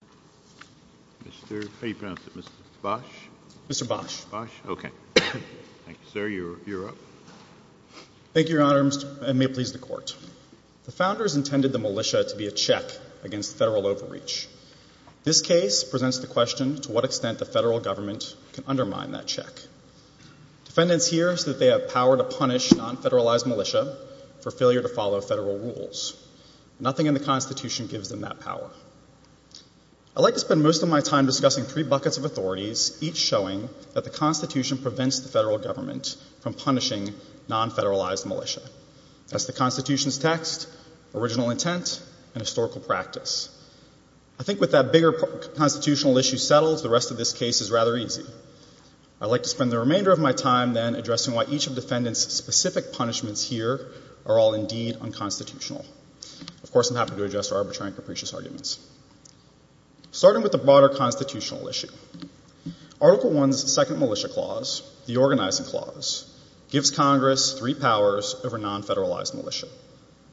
The founders intended the militia to be a check against federal overreach. This case presents the question to what extent the federal government can undermine that check. Defendants hear that they have power to punish non-federalized militia for failure to follow federal rules. Nothing in the Constitution gives them that power. I like to spend most of my time discussing three buckets of authorities, each showing that the Constitution prevents the federal government from punishing non-federalized militia. That's the Constitution's text, original intent, and historical practice. I think with that bigger constitutional issue settled, the rest of this case is rather easy. I'd like to spend the remainder of my time then addressing why each of defendants' specific punishments here are all indeed unconstitutional. Of course, I'm happy to address their arbitrary and capricious arguments. Starting with the broader constitutional issue, Article I's second militia clause, the organizing clause, gives Congress three powers over non-federalized militia.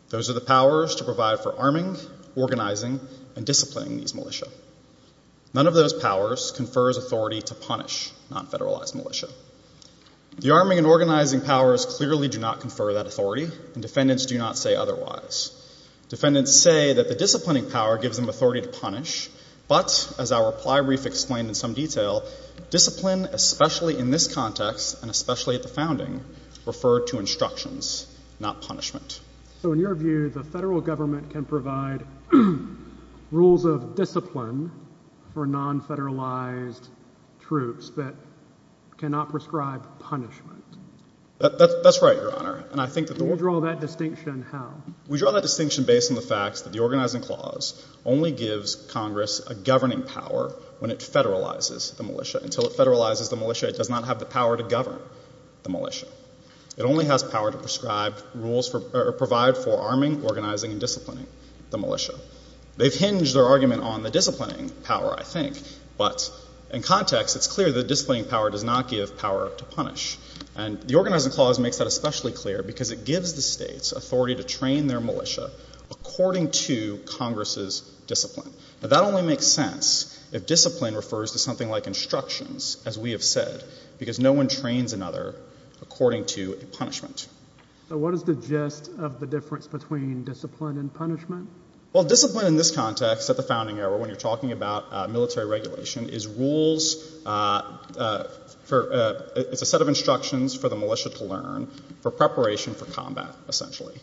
Those are the powers to provide for arming, organizing, and disciplining these militia. None of those powers confers authority to punish non-federalized militia. The arming and organizing powers clearly do not confer that authority, and defendants do not say otherwise. Defendants say that the disciplining power gives them authority to punish. But, as our reply brief explained in some detail, discipline, especially in this context and especially at the founding, referred to instructions, not punishment. So, in your view, the federal government can provide rules of discipline for non-federalized troops that cannot prescribe punishment? That's right, Your Honor. Can you draw that distinction how? We draw that distinction based on the fact that the organizing clause only gives Congress a governing power when it federalizes the militia. Until it federalizes the militia, it does not have the power to govern the militia. It only has power to prescribe rules or provide for arming, organizing, and disciplining the militia. They've hinged their argument on the disciplining power, I think, but in context, it's clear the disciplining power does not give power to punish. And the organizing clause makes that especially clear because it gives the states authority to train their militia according to Congress's discipline. Now, that only makes sense if discipline refers to something like instructions, as we have said, because no one trains another according to a punishment. So what is the gist of the difference between discipline and punishment? Well, discipline in this context at the founding era, when you're talking about military regulation, is rules for — it's a set of instructions for the militia to learn for preparation for combat, essentially.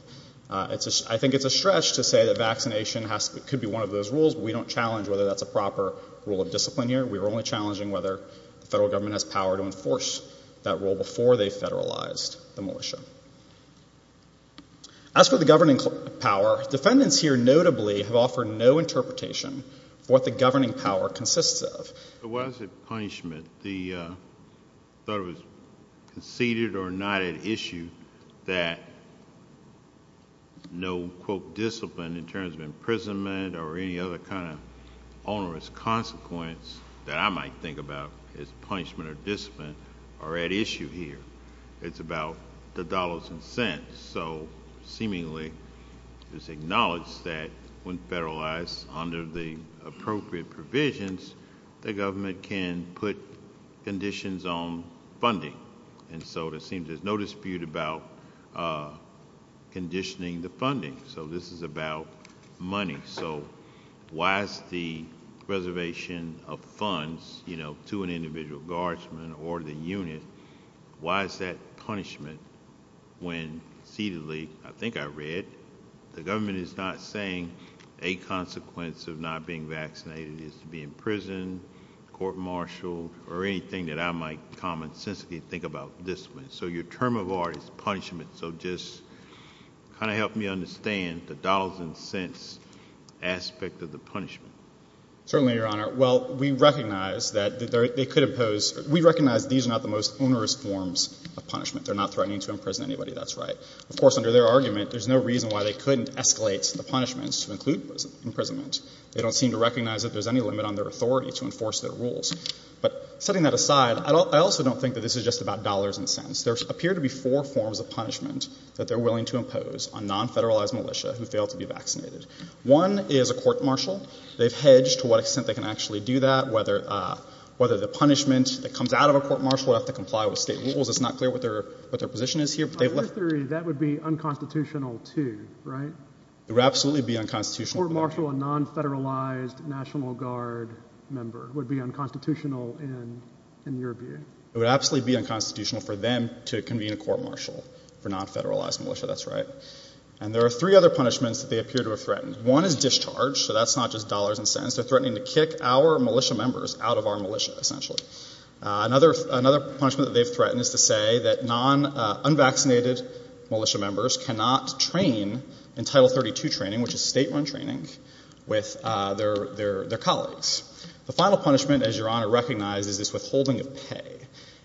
I think it's a stretch to say that vaccination could be one of those rules, but we don't challenge whether that's a proper rule of discipline here. We're only challenging whether the federal government has power to enforce that rule before they federalized the militia. As for the governing power, defendants here notably have offered no interpretation for what the governing power consists of. So why is it punishment? I thought it was conceded or not at issue that no, quote, discipline in terms of imprisonment or any other kind of onerous consequence that I might think about as punishment or discipline are at issue here. It's about the dollars and cents. So seemingly it's acknowledged that when federalized under the appropriate provisions, the government can put conditions on funding. And so it seems there's no dispute about conditioning the funding. So this is about money. So why is the reservation of funds, you know, to an individual guardsman or the unit, why is that punishment when cededly, I think I read, the government is not saying a consequence of not being vaccinated is to be imprisoned, court-martialed, or anything that I might commonsensically think about discipline. So your term of art is punishment. So just kind of help me understand the dollars and cents aspect of the punishment. Certainly, Your Honor. Well, we recognize that they could impose, we recognize these are not the most onerous forms of punishment. They're not threatening to imprison anybody. That's right. Of course, under their argument, there's no reason why they couldn't escalate the punishments to include imprisonment. They don't seem to recognize that there's any limit on their authority to enforce their rules. But setting that aside, I also don't think that this is just about dollars and cents. There appear to be four forms of punishment that they're willing to impose on non-federalized militia who fail to be vaccinated. One is a court-martial. They've hedged to what extent they can actually do that, whether the punishment that comes out of a court-martial would have to comply with state rules. It's not clear what their position is here. Under their theory, that would be unconstitutional, too, right? It would absolutely be unconstitutional. A court-martial, a non-federalized National Guard member would be unconstitutional in your view. It would absolutely be unconstitutional for them to convene a court-martial for non-federalized militia. That's right. And there are three other punishments that they appear to have threatened. One is discharge. So that's not just dollars and cents. They're threatening to kick our militia members out of our militia, essentially. Another punishment that they've threatened is to say that non-unvaccinated militia members cannot train in Title 32 training, which is state-run training, with their colleagues. The final punishment, as Your Honor recognizes, is withholding of pay.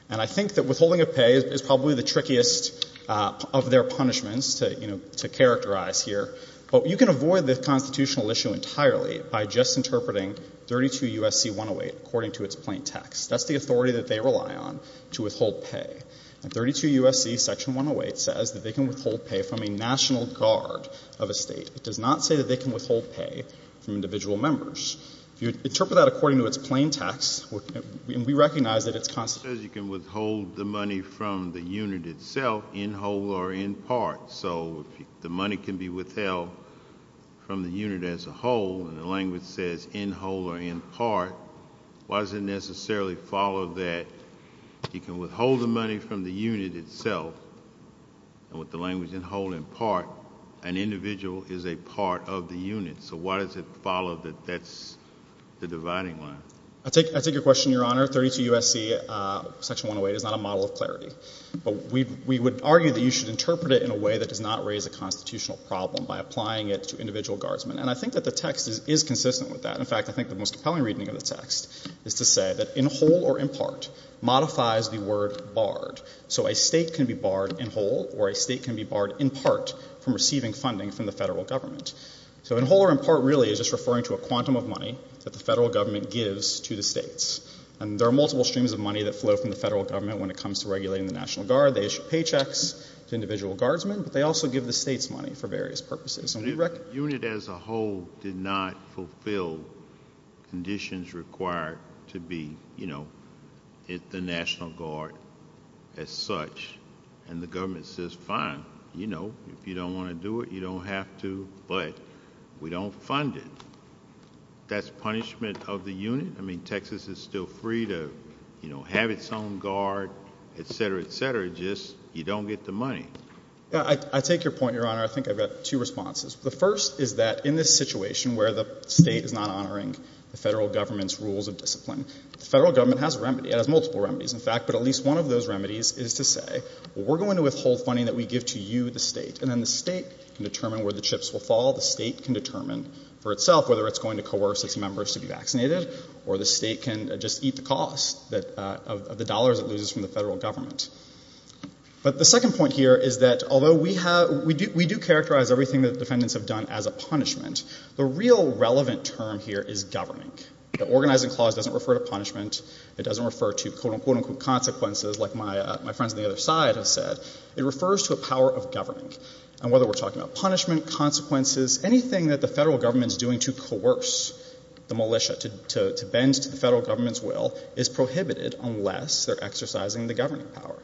And I think that withholding of pay is probably the trickiest of their punishments to characterize here. But you can avoid the constitutional issue entirely by just interpreting 32 U.S.C. 108 according to its plain text. That's the authority that they rely on to withhold pay. And 32 U.S.C. Section 108 says that they can withhold pay from a National Guard of a state. It does not say that they can withhold pay from individual members. If you interpret that according to its plain text, we recognize that it's constitutional. It says you can withhold the money from the unit itself, in whole or in part. So the money can be withheld from the unit as a whole, and the language says in whole or in part. Why does it necessarily follow that you can withhold the money from the unit itself? And with the language in whole and part, an individual is a part of the unit. So why does it follow that that's the dividing line? I take your question, Your Honor. 32 U.S.C. Section 108 is not a model of clarity. But we would argue that you should interpret it in a way that does not raise a constitutional problem by applying it to individual guardsmen. And I think that the text is consistent with that. In fact, I think the most compelling reading of the text is to say that in whole or in part modifies the word barred. So a state can be barred in whole or a state can be barred in part from receiving funding from the Federal Government. So in whole or in part really is just referring to a quantum of money that the Federal Government gives to the states. And there are multiple streams of money that flow from the Federal Government when it comes to regulating the National Guard. They issue paychecks to individual guardsmen. But they also give the states money for various purposes. And we reckon unit as a whole did not fulfill conditions required to be, you know, at the National Guard as such. And the government says, fine, you know, if you don't want to do it, you don't have to. But we don't fund it. That's punishment of the unit? I mean, Texas is still free to, you know, have its own guard, et cetera, et cetera. It's just you don't get the money. I take your point, Your Honor. I think I've got two responses. The first is that in this situation where the state is not honoring the Federal Government's rules of discipline, the Federal Government has a remedy. It has multiple remedies, in fact. But at least one of those remedies is to say, well, we're going to withhold funding that we give to you, the state. And then the state can determine where the chips will fall. The state can determine for itself whether it's going to coerce its members to be vaccinated, or the state can just eat the cost of the dollars it loses from the Federal Government. But the second point here is that although we do characterize everything that the defendants have done as a punishment, the real relevant term here is governing. The organizing clause doesn't refer to punishment. It doesn't refer to, quote, unquote, consequences like my friends on the other side have said. It refers to a power of governing. And whether we're talking about punishment, consequences, anything that the Federal Government is doing to coerce the militia, to bend to the Federal Government's will, is prohibited unless they're exercising the governing power.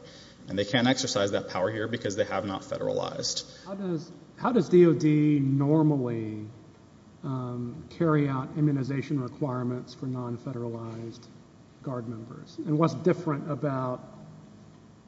And they can't exercise that power here because they have not federalized. How does DOD normally carry out immunization requirements for non-federalized Guard members? And what's different about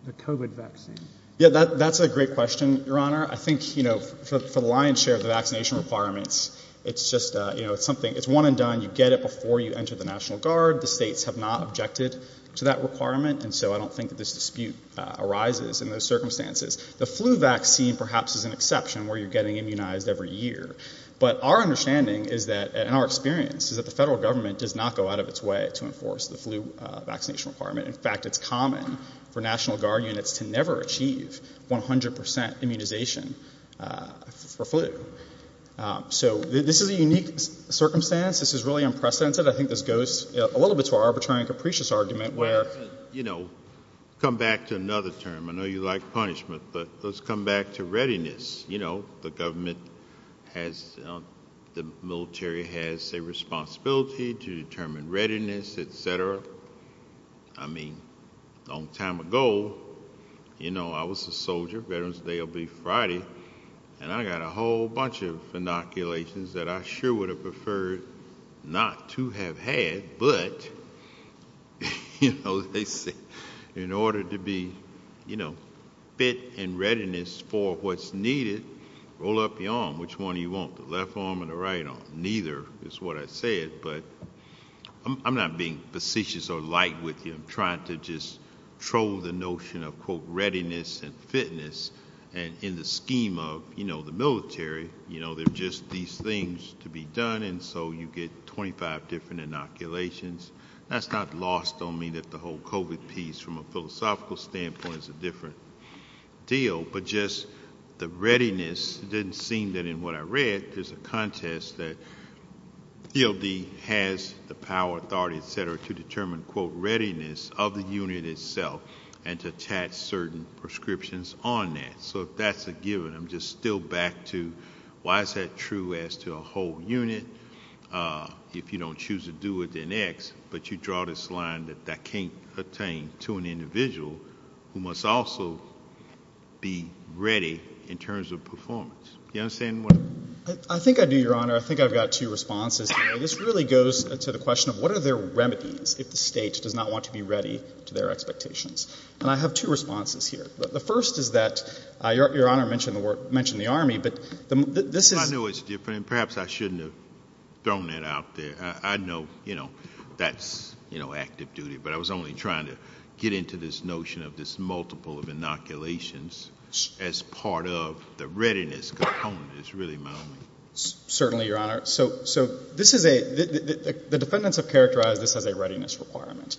the COVID vaccine? Yeah, that's a great question, Your Honor. I think, you know, for the lion's share of the vaccination requirements, it's just, you know, it's one and done. You get it before you enter the National Guard. The states have not objected to that requirement. And so I don't think that this dispute arises in those circumstances. The flu vaccine perhaps is an exception where you're getting immunized every year. But our understanding is that, and our experience, is that the Federal Government does not go out of its way to enforce the flu vaccination requirement. In fact, it's common for National Guard units to never achieve 100 percent immunization for flu. So this is a unique circumstance. This is really unprecedented. I think this goes a little bit to our arbitrary and capricious argument where, you know, come back to another term. I know you like punishment, but let's come back to readiness. You know, the government has, the military has a responsibility to determine readiness, et cetera. I mean, a long time ago, you know, I was a soldier, Veterans Day will be Friday, and I got a whole bunch of inoculations that I sure would have preferred not to have had, but, you know, they say in order to be, you know, fit and readiness for what's needed, roll up your arm. Which one do you want, the left arm or the right arm? Neither is what I said, but I'm not being facetious or light with you. I'm trying to just troll the notion of, quote, readiness and fitness, and in the scheme of, you know, the military, you know, they're just these things to be done, and so you get 25 different inoculations. That's not lost on me that the whole COVID piece from a philosophical standpoint is a different deal, but just the readiness didn't seem that in what I read there's a contest that DLD has the power, authority, et cetera, to determine, quote, readiness of the unit itself and to attach certain prescriptions on that. So if that's a given, I'm just still back to why is that true as to a whole unit? If you don't choose to do it, then X, but you draw this line that that can't pertain to an individual who must also be ready in terms of performance. Do you understand what I'm saying? I think I do, Your Honor. I think I've got two responses here. This really goes to the question of what are their remedies if the state does not want to be ready to their expectations, and I have two responses here. The first is that Your Honor mentioned the Army, but this is ‑‑ I know it's different, and perhaps I shouldn't have thrown that out there. I know, you know, that's, you know, active duty, but I was only trying to get into this notion of this multiple of inoculations as part of the readiness component. It's really my only ‑‑ Certainly, Your Honor. So this is a ‑‑ the defendants have characterized this as a readiness requirement.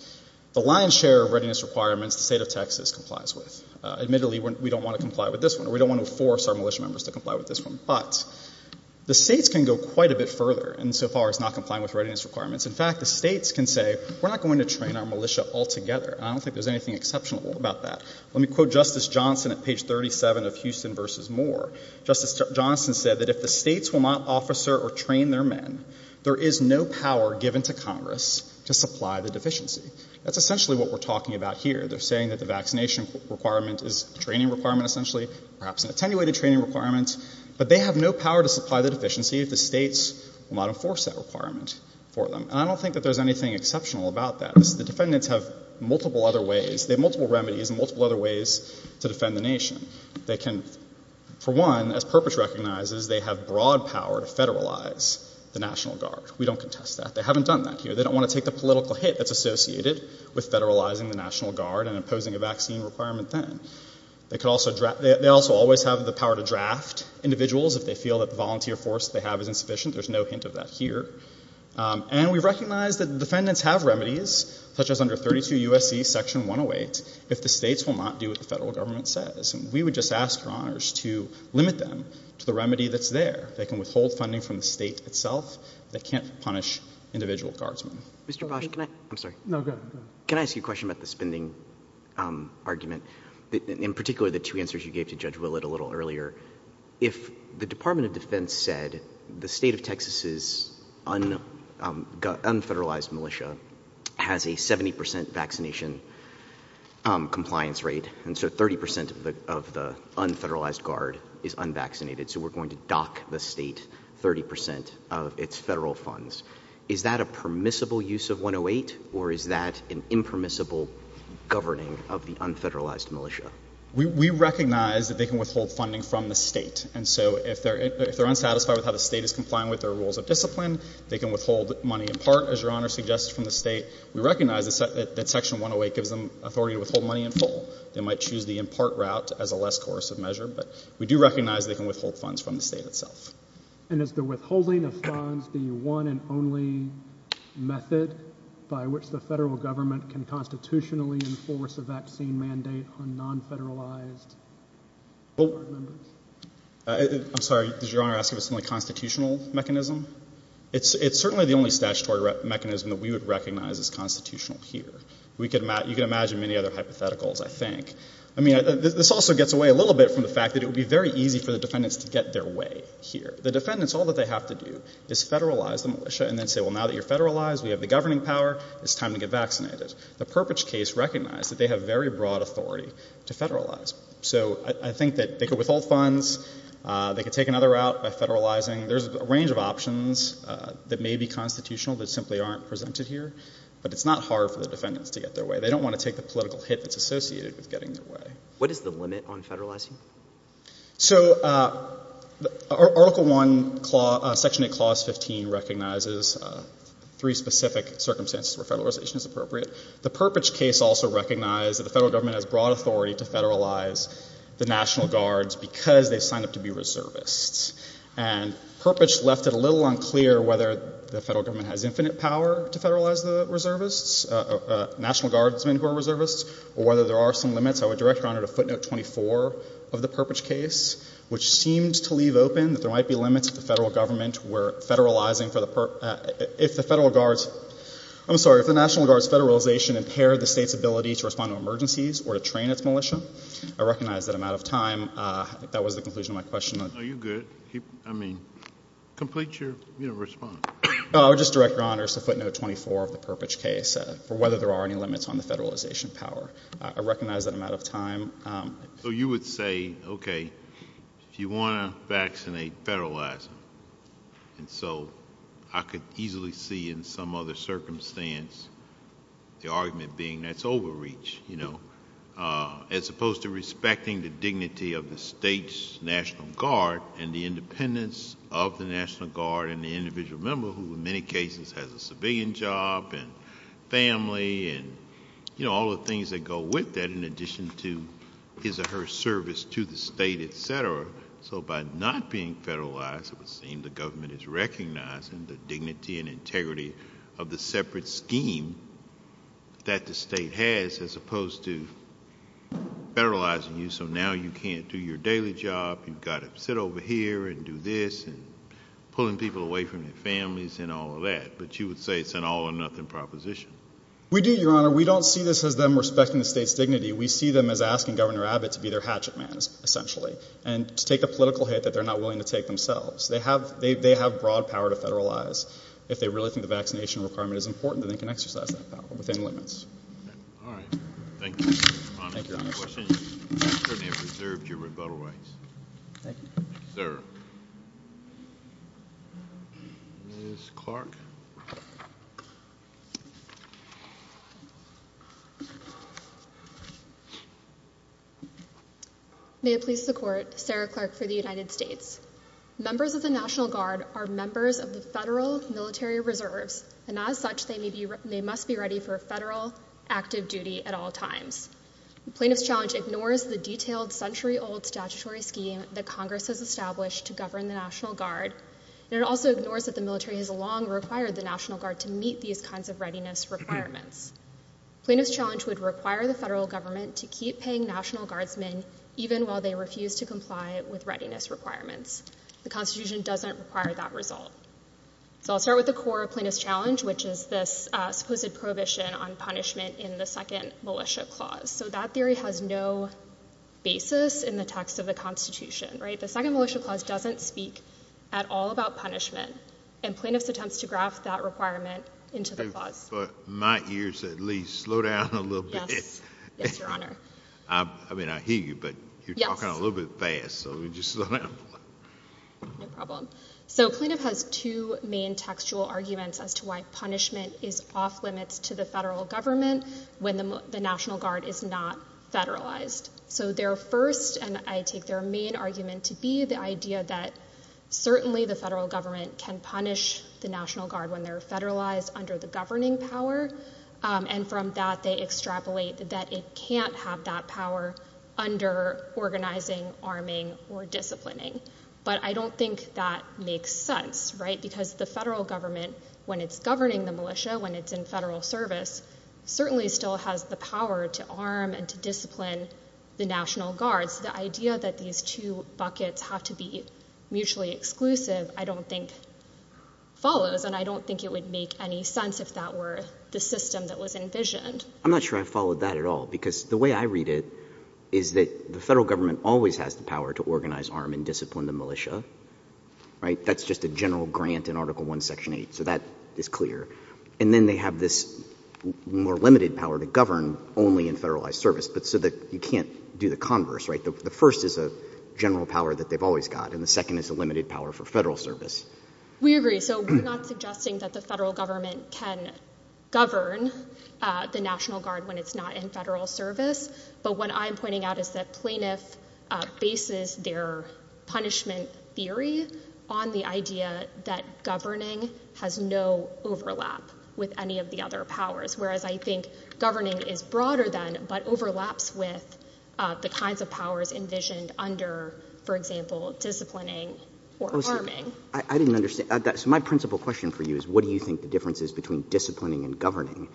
The lion's share of readiness requirements the state of Texas complies with. Admittedly, we don't want to comply with this one, or we don't want to force our militia members to comply with this one, but the states can go quite a bit further insofar as not complying with readiness requirements. In fact, the states can say we're not going to train our militia altogether, and I don't think there's anything exceptional about that. Let me quote Justice Johnson at page 37 of Houston v. Moore. Justice Johnson said that if the states will not officer or train their men, there is no power given to Congress to supply the deficiency. That's essentially what we're talking about here. They're saying that the vaccination requirement is a training requirement essentially, perhaps an attenuated training requirement, but they have no power to supply the deficiency if the states will not enforce that requirement for them. And I don't think that there's anything exceptional about that. The defendants have multiple other ways. They have multiple remedies and multiple other ways to defend the nation. They can, for one, as Perpich recognizes, they have broad power to federalize the National Guard. We don't contest that. They haven't done that here. They don't want to take the political hit that's associated with federalizing the National Guard and imposing a vaccine requirement then. They also always have the power to draft individuals if they feel that the volunteer force they have is insufficient. There's no hint of that here. And we recognize that defendants have remedies, such as under 32 U.S.C. Section 108, if the states will not do what the federal government says. And we would just ask Your Honors to limit them to the remedy that's there. They can withhold funding from the state itself. They can't punish individual guardsmen. Mr. Bosch, can I ask you a question about the spending argument, in particular the two answers you gave to Judge Willett a little earlier. If the Department of Defense said the state of Texas' unfederalized militia has a 70 percent vaccination compliance rate and so 30 percent of the unfederalized guard is unvaccinated, so we're going to dock the state 30 percent of its federal funds, is that a permissible use of 108, or is that an impermissible governing of the unfederalized militia? We recognize that they can withhold funding from the state. And so if they're unsatisfied with how the state is complying with their rules of discipline, they can withhold money in part, as Your Honor suggests, from the state. We recognize that Section 108 gives them authority to withhold money in full. They might choose the in-part route as a less coercive measure, but we do recognize they can withhold funds from the state itself. And is the withholding of funds the one and only method by which the federal government can constitutionally enforce a vaccine mandate on non-federalized guard members? I'm sorry. Did Your Honor ask if it's only a constitutional mechanism? It's certainly the only statutory mechanism that we would recognize as constitutional here. You can imagine many other hypotheticals, I think. I mean, this also gets away a little bit from the fact that it would be very easy for the defendants to get their way here. The defendants, all that they have to do is federalize the militia and then say, well, now that you're federalized, we have the governing power, it's time to get vaccinated. The Perpich case recognized that they have very broad authority to federalize. So I think that they could withhold funds. They could take another route by federalizing. There's a range of options that may be constitutional that simply aren't presented here. But it's not hard for the defendants to get their way. They don't want to take the political hit that's associated with getting their way. What is the limit on federalizing? So Article I, Section 8, Clause 15 recognizes three specific circumstances where federalization is appropriate. The Perpich case also recognized that the federal government has broad authority to federalize the National Guards because they sign up to be reservists. And Perpich left it a little unclear whether the federal government has infinite power to federalize the reservists, National Guardsmen who are reservists, or whether there are some limits. I would direct Your Honor to footnote 24 of the Perpich case, which seems to leave open that there might be limits if the federal government were federalizing for the Perpich. If the National Guards' federalization impaired the state's ability to respond to emergencies or to train its militia, I recognize that I'm out of time. That was the conclusion of my question. No, you're good. I mean, complete your response. I would just direct Your Honor to footnote 24 of the Perpich case for whether there are any limits on the federalization power. I recognize that I'm out of time. So you would say, okay, if you want to vaccinate, federalize them. And so I could easily see in some other circumstance the argument being that's overreach, you know, as opposed to respecting the dignity of the state's National Guard and the independence of the National Guard and the individual member, who in many cases has a civilian job and family and, you know, all the things that go with that in addition to his or her service to the state, et cetera. So by not being federalized, it would seem the government is recognizing the dignity and integrity of the separate scheme that the state has as opposed to federalizing you. So now you can't do your daily job. You've got to sit over here and do this and pulling people away from their families and all of that. But you would say it's an all-or-nothing proposition. We do, Your Honor. We don't see this as them respecting the state's dignity. We see them as asking Governor Abbott to be their hatchet man, essentially, and to take a political hit that they're not willing to take themselves. They have broad power to federalize. If they really think the vaccination requirement is important, then they can exercise that power within limits. All right. Thank you, Your Honor. Any questions? I certainly have reserved your rebuttal rights. Thank you. Thank you, sir. Ms. Clark. May it please the Court, Sarah Clark for the United States. Members of the National Guard are members of the federal military reserves, and as such, they must be ready for federal active duty at all times. The Plaintiff's Challenge ignores the detailed century-old statutory scheme that Congress has established to govern the National Guard, and it also ignores that the military has long required the National Guard to meet these kinds of readiness requirements. Plaintiff's Challenge would require the federal government to keep paying National Guardsmen even while they refuse to comply with readiness requirements. The Constitution doesn't require that result. So I'll start with the core of Plaintiff's Challenge, which is this supposed prohibition on punishment in the Second Militia Clause. So that theory has no basis in the text of the Constitution, right? The Second Militia Clause doesn't speak at all about punishment, and Plaintiff's attempts to graft that requirement into the clause. But my ears, at least, slow down a little bit. Yes. Yes, Your Honor. I mean, I hear you, but you're talking a little bit fast, so let me just slow down a little. No problem. So Plaintiff has two main textual arguments as to why punishment is off-limits to the federal government when the National Guard is not federalized. So their first, and I take their main, argument to be the idea that certainly the federal government can punish the National Guard when they're federalized under the governing power, and from that they extrapolate that it can't have that power under organizing, arming, or disciplining. But I don't think that makes sense, right? Because the federal government, when it's governing the militia, when it's in federal service, certainly still has the power to arm and to discipline the National Guards. The idea that these two buckets have to be mutually exclusive I don't think follows, and I don't think it would make any sense if that were the system that was envisioned. I'm not sure I followed that at all, because the way I read it is that the federal government always has the power to organize, arm, and discipline the militia. That's just a general grant in Article I, Section 8, so that is clear. And then they have this more limited power to govern only in federalized service, but so that you can't do the converse, right? The first is a general power that they've always got, and the second is a limited power for federal service. We agree. So we're not suggesting that the federal government can govern the National Guard when it's not in federal service, but what I'm pointing out is that Plaintiff bases their punishment theory on the idea that governing has no overlap with any of the other powers, whereas I think governing is broader than, but overlaps with the kinds of powers envisioned under, for example, disciplining or arming. I didn't understand. So my principal question for you is, what do you think the difference is between disciplining and governing?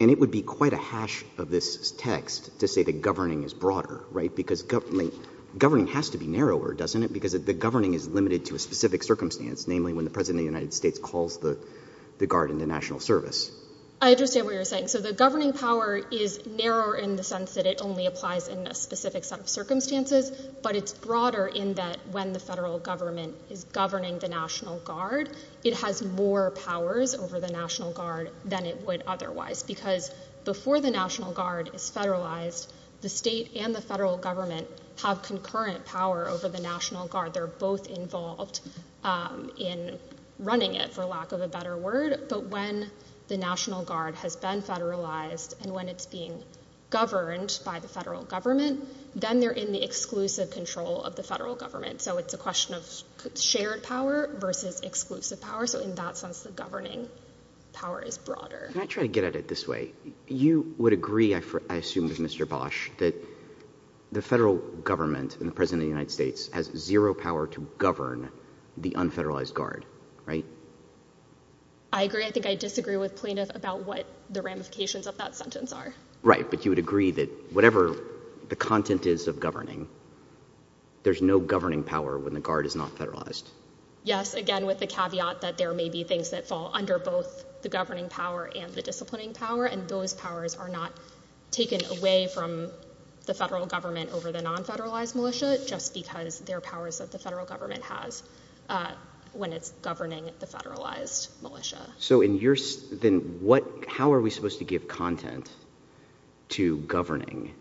And it would be quite a hash of this text to say that governing is broader, right? Because governing has to be narrower, doesn't it? Because the governing is limited to a specific circumstance, namely when the President of the United States calls the Guard into national service. I understand what you're saying. So the governing power is narrower in the sense that it only applies in a specific set of circumstances, but it's broader in that when the federal government is governing the National Guard, it has more powers over the National Guard than it would otherwise, because before the National Guard is federalized, the state and the federal government have concurrent power over the National Guard. They're both involved in running it, for lack of a better word. But when the National Guard has been federalized and when it's being governed by the federal government, then they're in the exclusive control of the federal government. So it's a question of shared power versus exclusive power. So in that sense, the governing power is broader. Can I try to get at it this way? You would agree, I assume it was Mr. Bosch, that the federal government and the President of the United States has zero power to govern the unfederalized Guard, right? I agree. I think I disagree with plaintiff about what the ramifications of that sentence are. Right, but you would agree that whatever the content is of governing, there's no governing power when the Guard is not federalized? Yes, again, with the caveat that there may be things that fall under both the governing power and the disciplining power, and those powers are not taken away from the federal government over the non-federalized militia, just because they're powers that the federal government has when it's governing the federalized militia. Then how are we supposed to give content to governing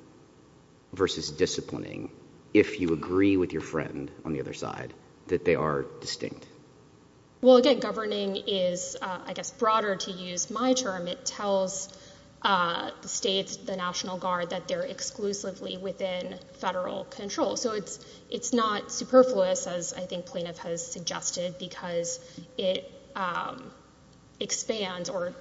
versus disciplining if you agree with your friend on the other side that they are distinct? Well, again, governing is, I guess, broader to use my term. It tells the states, the National Guard, that they're exclusively within federal control. So it's not superfluous, as I think plaintiff has suggested, because it expands or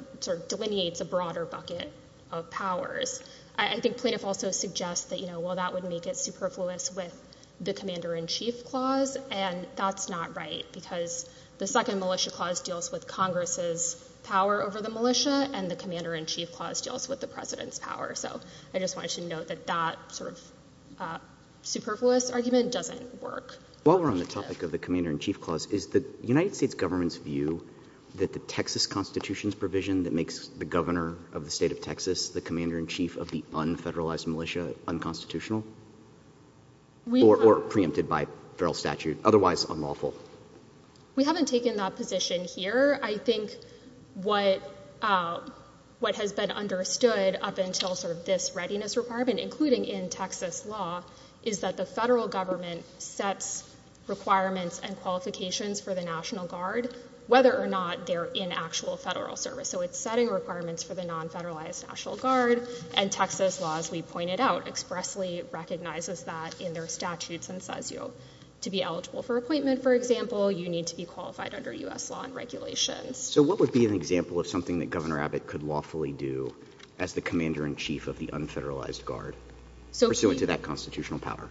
delineates a broader bucket of powers. I think plaintiff also suggests that, well, that would make it superfluous with the Commander-in-Chief Clause, and that's not right because the Second Militia Clause deals with Congress's power over the militia, and the Commander-in-Chief Clause deals with the president's power. So I just wanted to note that that sort of superfluous argument doesn't work. While we're on the topic of the Commander-in-Chief Clause, is the United States government's view that the Texas Constitution's provision that makes the governor of the state of Texas the commander-in-chief of the unfederalized militia unconstitutional? Or preempted by federal statute, otherwise unlawful? We haven't taken that position here. I think what has been understood up until sort of this readiness requirement, including in Texas law, is that the federal government sets requirements and qualifications for the National Guard whether or not they're in actual federal service. So it's setting requirements for the non-federalized National Guard, and Texas law, as we pointed out, expressly recognizes that in their statutes and says to be eligible for appointment, for example, you need to be qualified under U.S. law and regulations. So what would be an example of something that Governor Abbott could lawfully do as the commander-in-chief of the unfederalized Guard pursuant to that constitutional power?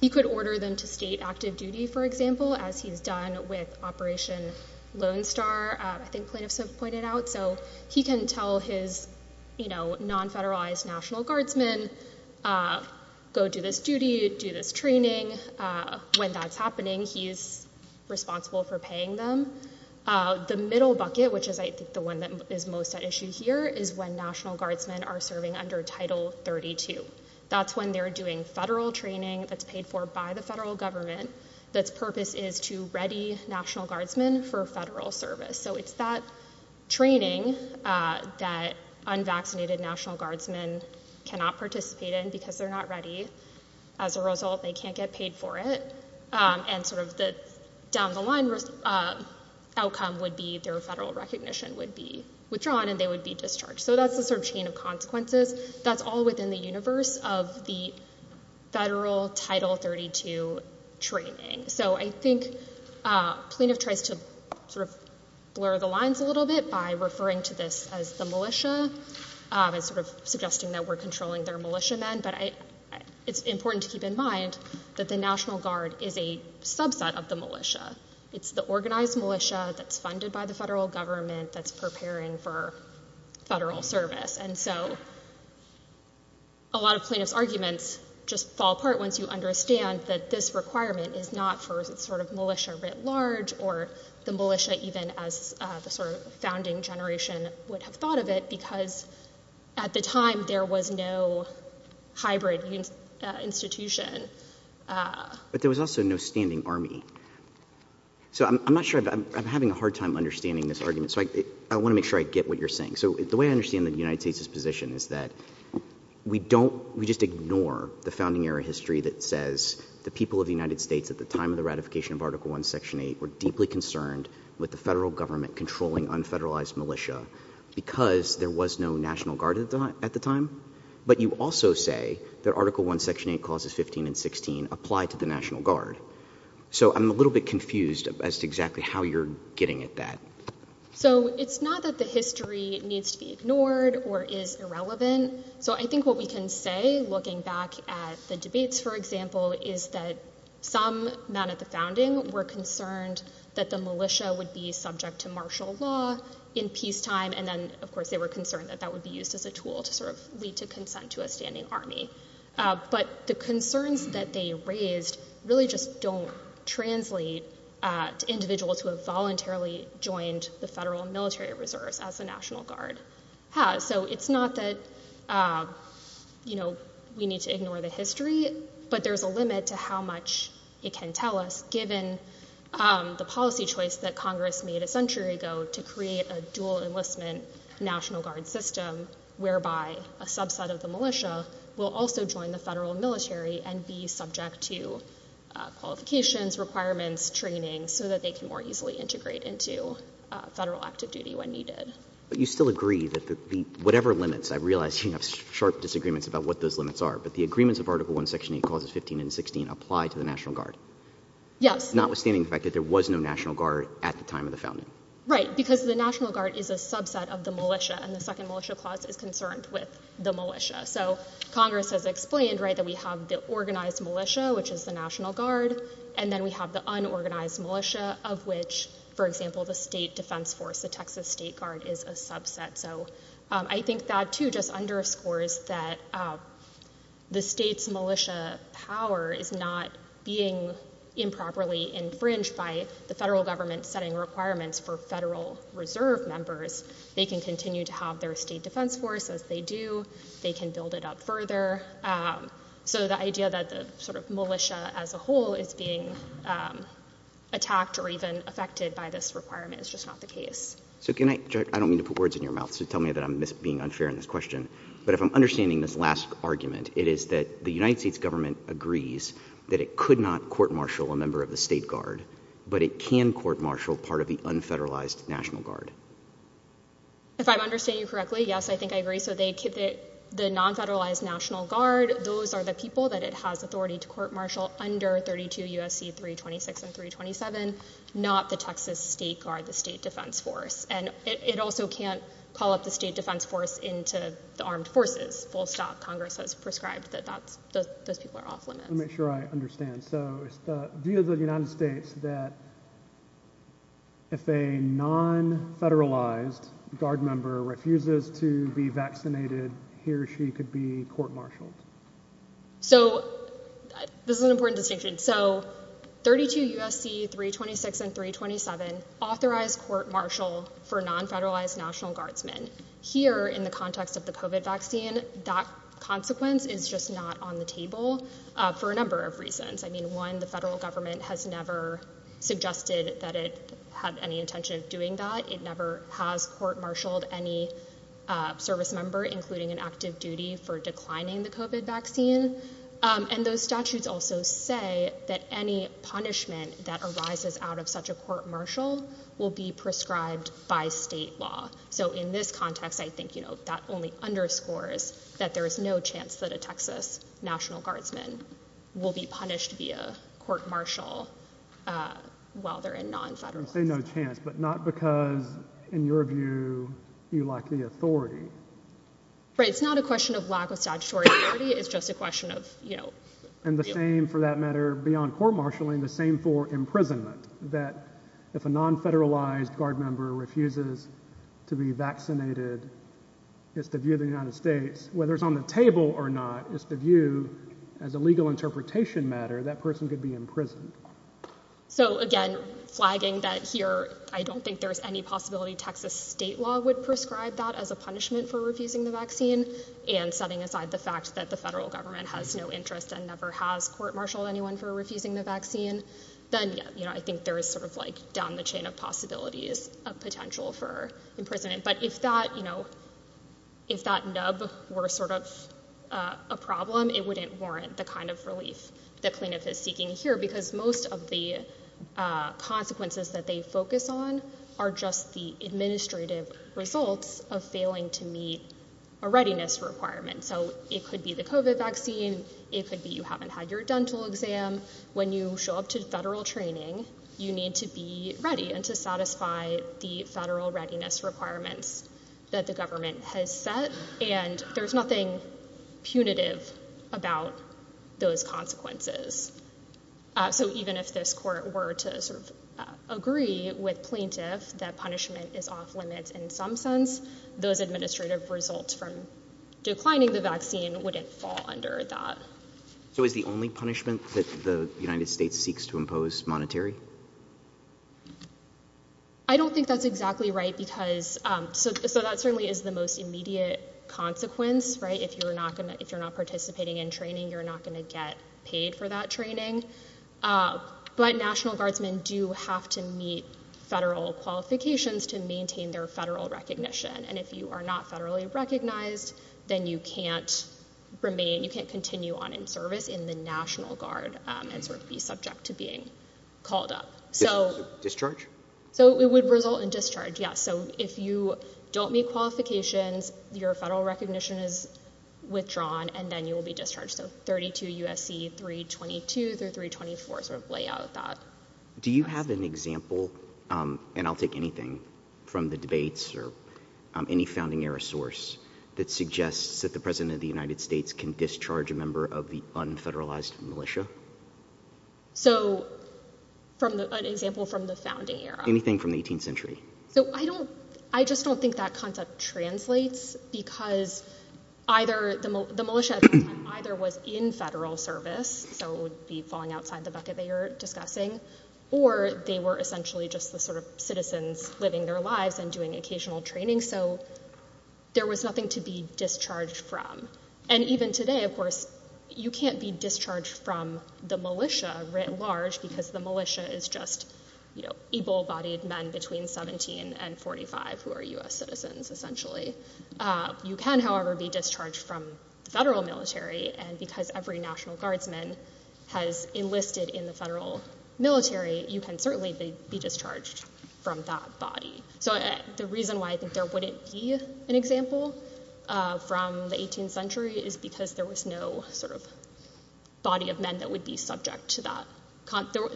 He could order them to state active duty, for example, as he's done with Operation Lone Star, I think plaintiffs have pointed out. So he can tell his non-federalized National Guardsmen, go do this duty, do this training. When that's happening, he's responsible for paying them. The middle bucket, which is, I think, the one that is most at issue here, is when National Guardsmen are serving under Title 32. That's when they're doing federal training that's paid for by the federal government that's purpose is to ready National Guardsmen for federal service. So it's that training that unvaccinated National Guardsmen cannot participate in because they're not ready. As a result, they can't get paid for it. And sort of the down-the-line outcome would be their federal recognition would be withdrawn and they would be discharged. So that's the sort of chain of consequences. That's all within the universe of the federal Title 32 training. So I think plaintiff tries to sort of blur the lines a little bit by referring to this as the militia and sort of suggesting that we're controlling their militiamen. But it's important to keep in mind that the National Guard is a subset of the militia. It's the organized militia that's funded by the federal government that's preparing for federal service. And so a lot of plaintiff's arguments just fall apart once you understand that this requirement is not for sort of militia writ large or the militia even as the sort of founding generation would have thought of it because at the time there was no hybrid institution. But there was also no standing army. So I'm not sure. I'm having a hard time understanding this argument. So I want to make sure I get what you're saying. So the way I understand the United States' position is that we just ignore the founding era history that says the people of the United States at the time of the ratification of Article I, Section 8 were deeply concerned with the federal government controlling unfederalized militia because there was no National Guard at the time. But you also say that Article I, Section 8, Clauses 15 and 16 apply to the National Guard. So I'm a little bit confused as to exactly how you're getting at that. So it's not that the history needs to be ignored or is irrelevant. So I think what we can say looking back at the debates, for example, is that some men at the founding were concerned that the militia would be subject to martial law in peacetime, and then, of course, they were concerned that that would be used as a tool to sort of lead to consent to a standing army. But the concerns that they raised really just don't translate to individuals who have voluntarily joined the federal military reserves as the National Guard has. So it's not that we need to ignore the history, but there's a limit to how much it can tell us given the policy choice that Congress made a century ago to create a dual enlistment National Guard system whereby a subset of the militia will also join the federal military and be subject to qualifications, requirements, training, so that they can more easily integrate into federal active duty when needed. But you still agree that whatever limits, I realize you have sharp disagreements about what those limits are, but the agreements of Article I, Section 8, Clauses 15 and 16 apply to the National Guard. Yes. Notwithstanding the fact that there was no National Guard at the time of the founding. Right, because the National Guard is a subset of the militia, and the Second Militia Clause is concerned with the militia. So Congress has explained that we have the organized militia, which is the National Guard, and then we have the unorganized militia, of which, for example, the State Defense Force, the Texas State Guard, is a subset. So I think that, too, just underscores that the state's militia power is not being improperly infringed by the federal government setting requirements for federal reserve members. They can continue to have their state defense force as they do. They can build it up further. So the idea that the sort of militia as a whole is being attacked or even affected by this requirement is just not the case. So can I—I don't mean to put words in your mouth, so tell me that I'm being unfair in this question. But if I'm understanding this last argument, it is that the United States government agrees that it could not court-martial a member of the State Guard, but it can court-martial part of the unfederalized National Guard. If I'm understanding you correctly, yes, I think I agree. So the non-federalized National Guard, those are the people that it has authority to court-martial under 32 U.S.C. 326 and 327, not the Texas State Guard, the State Defense Force. And it also can't call up the State Defense Force into the armed forces. It's full-stop. Congress has prescribed that those people are off-limits. Let me make sure I understand. So it's the view of the United States that if a non-federalized Guard member refuses to be vaccinated, he or she could be court-martialed. So this is an important distinction. So 32 U.S.C. 326 and 327 authorize court-martial for non-federalized National Guardsmen. Here, in the context of the COVID vaccine, that consequence is just not on the table for a number of reasons. I mean, one, the federal government has never suggested that it had any intention of doing that. It never has court-martialed any service member, including an active duty for declining the COVID vaccine. And those statutes also say that any punishment that arises out of such a court-martial will be prescribed by state law. So in this context, I think that only underscores that there is no chance that a Texas National Guardsman will be punished via court-martial while they're in non-federal prison. You say no chance, but not because, in your view, you lack the authority. Right. It's not a question of lack of statutory authority. It's just a question of, you know... And the same, for that matter, beyond court-martialing, the same for imprisonment, that if a non-federalized guard member refuses to be vaccinated, it's the view of the United States, whether it's on the table or not, it's the view, as a legal interpretation matter, that person could be imprisoned. So, again, flagging that here I don't think there's any possibility Texas state law would prescribe that as a punishment for refusing the vaccine and setting aside the fact that the federal government has no interest and never has court-martialed anyone for refusing the vaccine, then, yeah, you know, I think there is sort of, like, down the chain of possibilities of potential for imprisonment. But if that, you know... If that nub were sort of a problem, it wouldn't warrant the kind of relief that plaintiff is seeking here because most of the consequences that they focus on are just the administrative results of failing to meet a readiness requirement. So it could be the COVID vaccine. It could be you haven't had your dental exam. When you show up to federal training, you need to be ready and to satisfy the federal readiness requirements that the government has set, and there's nothing punitive about those consequences. So even if this court were to sort of agree with plaintiff that punishment is off-limits in some sense, those administrative results from declining the vaccine wouldn't fall under that. So is the only punishment that the United States seeks to impose monetary? I don't think that's exactly right because... So that certainly is the most immediate consequence, right? If you're not participating in training, you're not going to get paid for that training. But National Guardsmen do have to meet federal qualifications to maintain their federal recognition, and if you are not federally recognized, then you can't remain. You can't continue on in service in the National Guard and sort of be subject to being called up. Discharge? So it would result in discharge, yes. So if you don't meet qualifications, your federal recognition is withdrawn, and then you will be discharged. So 32 U.S.C. 322 through 324 sort of lay out that. Do you have an example, and I'll take anything from the debates or any founding era source, that suggests that the president of the United States can discharge a member of the unfederalized militia? So an example from the founding era? Anything from the 18th century. So I just don't think that concept translates because either the militia at the time either was in federal service, so it would be falling outside the bucket they were discussing, or they were essentially just the sort of citizens living their lives and doing occasional training. So there was nothing to be discharged from. And even today, of course, you can't be discharged from the militia writ large because the militia is just, you know, able-bodied men between 17 and 45 who are U.S. citizens, essentially. You can, however, be discharged from the federal military, and because every National Guardsman has enlisted in the federal military, you can certainly be discharged from that body. So the reason why I think there wouldn't be an example from the 18th century is because there was no sort of body of men that would be subject to that...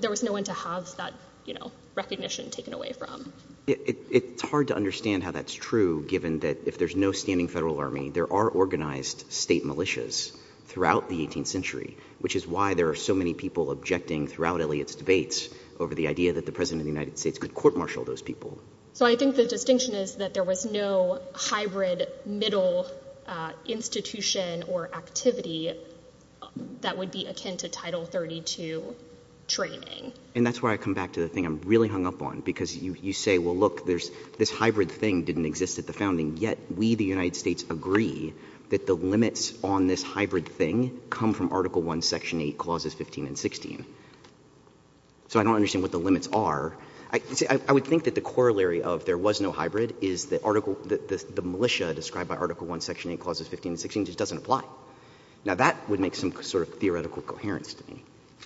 There was no one to have that, you know, recognition taken away from. It's hard to understand how that's true, given that if there's no standing federal army, there are organized state militias throughout the 18th century, which is why there are so many people objecting throughout Eliot's debates over the idea that the president of the United States could court-martial those people. So I think the distinction is that there was no hybrid middle institution or activity that would be akin to Title 32 training. And that's where I come back to the thing I'm really hung up on, because you say, well, look, this hybrid thing didn't exist at the founding, yet we, the United States, agree that the limits on this hybrid thing didn't come from Article I, Section 8, Clauses 15 and 16. So I don't understand what the limits are. I would think that the corollary of there was no hybrid is the militia described by Article I, Section 8, Clauses 15 and 16 just doesn't apply. Now, that would make some sort of theoretical coherence to me.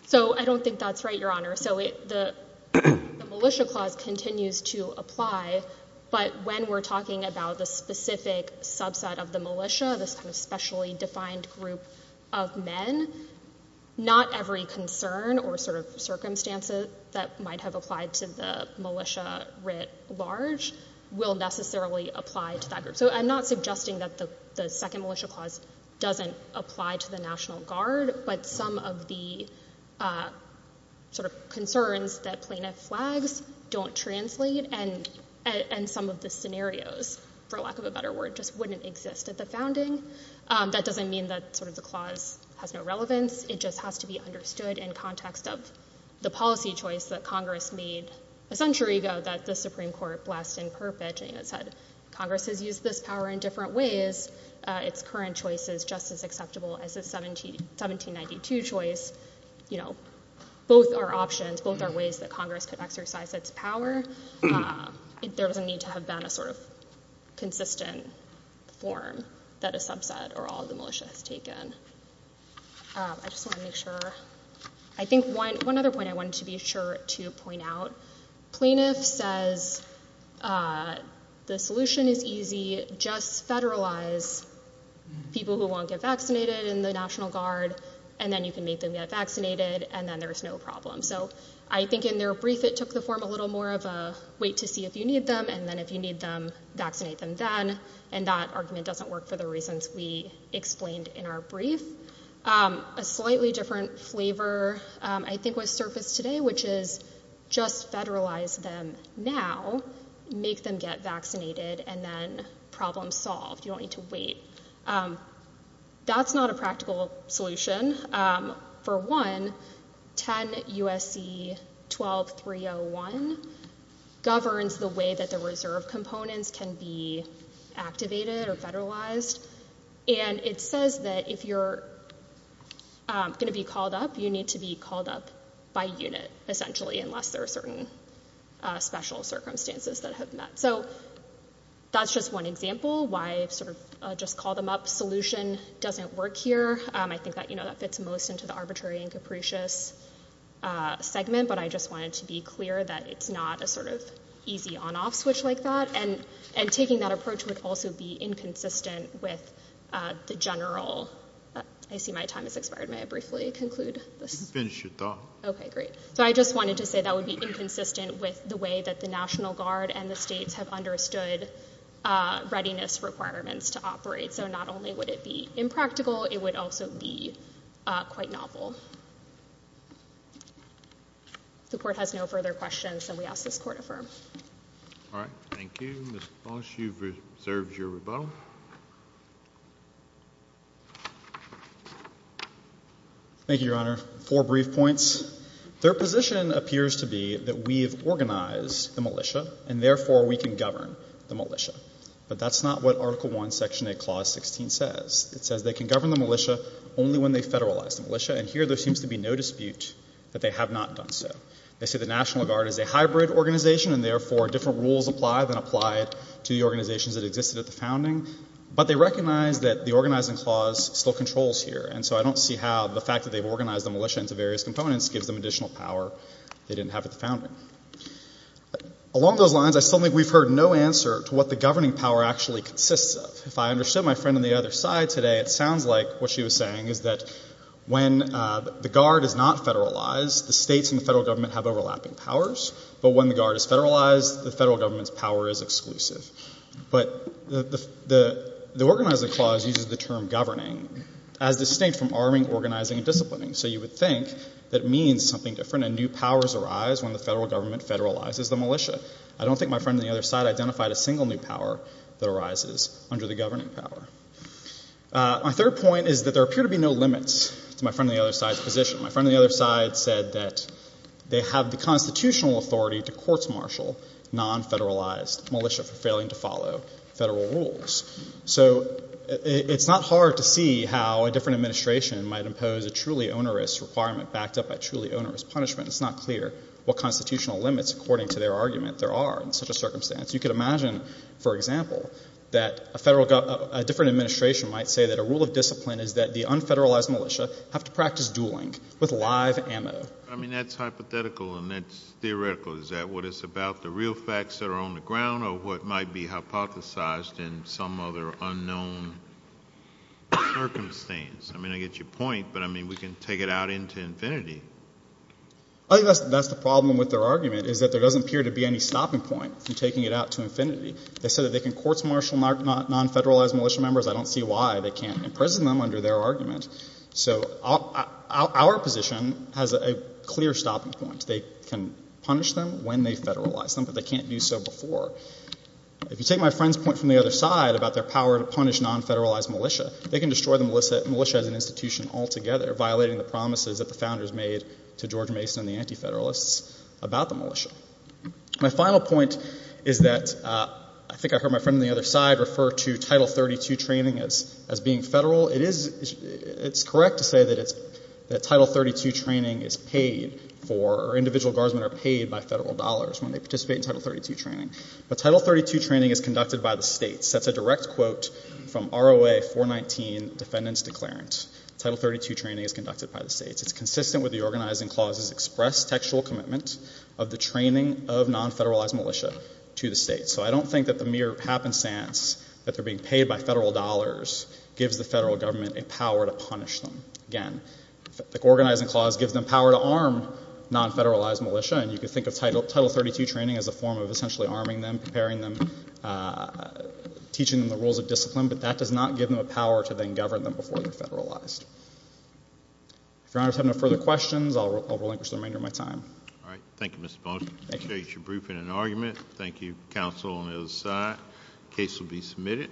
So I don't think that's right, Your Honor. So the Militia Clause continues to apply, but when we're talking about the specific subset of the militia, this kind of specially defined group of men, not every concern or sort of circumstances that might have applied to the militia writ large will necessarily apply to that group. So I'm not suggesting that the second Militia Clause doesn't apply to the National Guard, but some of the sort of concerns that plaintiff flags don't translate, and some of the scenarios, for lack of a better word, just wouldn't exist at the founding. That doesn't mean that sort of the clause has no relevance. It just has to be understood in context of the policy choice that Congress made a century ago that the Supreme Court blessed in perpetuating. It said Congress has used this power in different ways. Its current choice is just as acceptable as its 1792 choice. You know, both are options. Both are ways that Congress could exercise its power. There doesn't need to have been a sort of consistent form that a subset or all of the militia has taken. I just want to make sure... I think one other point I wanted to be sure to point out, plaintiff says the solution is easy, just federalize people who won't get vaccinated in the National Guard, and then you can make them get vaccinated, and then there's no problem. So I think in their brief it took the form a little more of a wait to see if you need them, and then if you need them, vaccinate them then, and that argument doesn't work for the reasons we explained in our brief. A slightly different flavor, I think, was surfaced today, which is just federalize them now, make them get vaccinated, and then problem solved. You don't need to wait. That's not a practical solution. For one, 10 U.S.C. 12301 governs the way that the reserve components can be activated or federalized, and it says that if you're going to be called up, you need to be called up by unit, essentially, unless there are certain special circumstances that have met. So that's just one example why sort of just call them up solution doesn't work here. I think that fits most into the arbitrary and capricious segment, but I just wanted to be clear that it's not a sort of easy on-off switch like that, and taking that approach would also be inconsistent with the general... I see my time has expired. May I briefly conclude this? You can finish your talk. Okay, great. So I just wanted to say that would be inconsistent with the way that the National Guard and the states have understood readiness requirements to operate. So not only would it be impractical, it would also be quite novel. If the Court has no further questions, then we ask this Court affirm. All right, thank you. Mr. Bosch, you've reserved your rebuttal. Thank you, Your Honor. Four brief points. Their position appears to be that we've organized the militia, and therefore we can govern the militia, but that's not what Article I, Section 8, Clause 16 says. It says they can govern the militia only when they federalize the militia, and here there seems to be no dispute that they have not done so. They say the National Guard is a hybrid organization, and therefore different rules apply than applied to the organizations that existed at the founding, but they recognize that the organizing clause still controls here, and so I don't see how the fact that they've organized the militia into various components gives them additional power they didn't have at the founding. Along those lines, I still think we've heard no answer to what the governing power actually consists of. If I understood my friend on the other side today, it sounds like what she was saying is that when the Guard is not federalized, the states and the federal government have overlapping powers, but when the Guard is federalized, the federal government's power is exclusive. But the organizing clause uses the term governing as distinct from arming, organizing, and disciplining, so you would think that it means something different, and new powers arise when the federal government federalizes the militia. I don't think my friend on the other side identified a single new power that arises under the governing power. My third point is that there appear to be no limits to my friend on the other side's position. My friend on the other side said that they have the constitutional authority to court-martial non-federalized militia for failing to follow federal rules. So it's not hard to see how a different administration might impose a truly onerous requirement backed up by truly onerous punishment. It's not clear what constitutional limits, according to their argument, there are in such a circumstance. You could imagine, for example, that a different administration might say that a rule of discipline is that the unfederalized militia have to practice dueling with live ammo. I mean, that's hypothetical, and that's theoretical. Is that what it's about, the real facts that are on the ground, or what might be hypothesized in some other unknown circumstance? I mean, I get your point, but, I mean, we can take it out into infinity. I think that's the problem with their argument is that there doesn't appear to be any stopping point from taking it out to infinity. They said that they can court-martial non-federalized militia members. I don't see why they can't imprison them under their argument. So our position has a clear stopping point. They can punish them when they federalize them, but they can't do so before. If you take my friend's point from the other side about their power to punish non-federalized militia, they can destroy the militia as an institution altogether, violating the promises that the Founders made to George Mason and the Anti-Federalists about the militia. My final point is that, I think I heard my friend on the other side refer to Title 32 training as being federal. It is, it's correct to say that it's, that Title 32 training is paid for, or individual guardsmen are paid by federal dollars when they participate in Title 32 training. But Title 32 training is conducted by the states. That's a direct quote from ROA 419, Defendant's Declarant. Title 32 training is conducted by the states. It's consistent with the organizing clauses express textual commitment of the training of non-federalized militia to the states. So I don't think that the mere happenstance that they're being paid by federal dollars gives the federal government a power to punish them. Again, the organizing clause gives them power to arm non-federalized militia, and you can think of Title 32 training as a form of essentially arming them, preparing them, teaching them the rules of discipline, but that does not give them a power to then govern them before they're federalized. If your honors have no further questions, I'll relinquish the remainder of my time. All right, thank you, Mr. Bonner. Appreciate your briefing and argument. Thank you, counsel on the other side. Case will be submitted.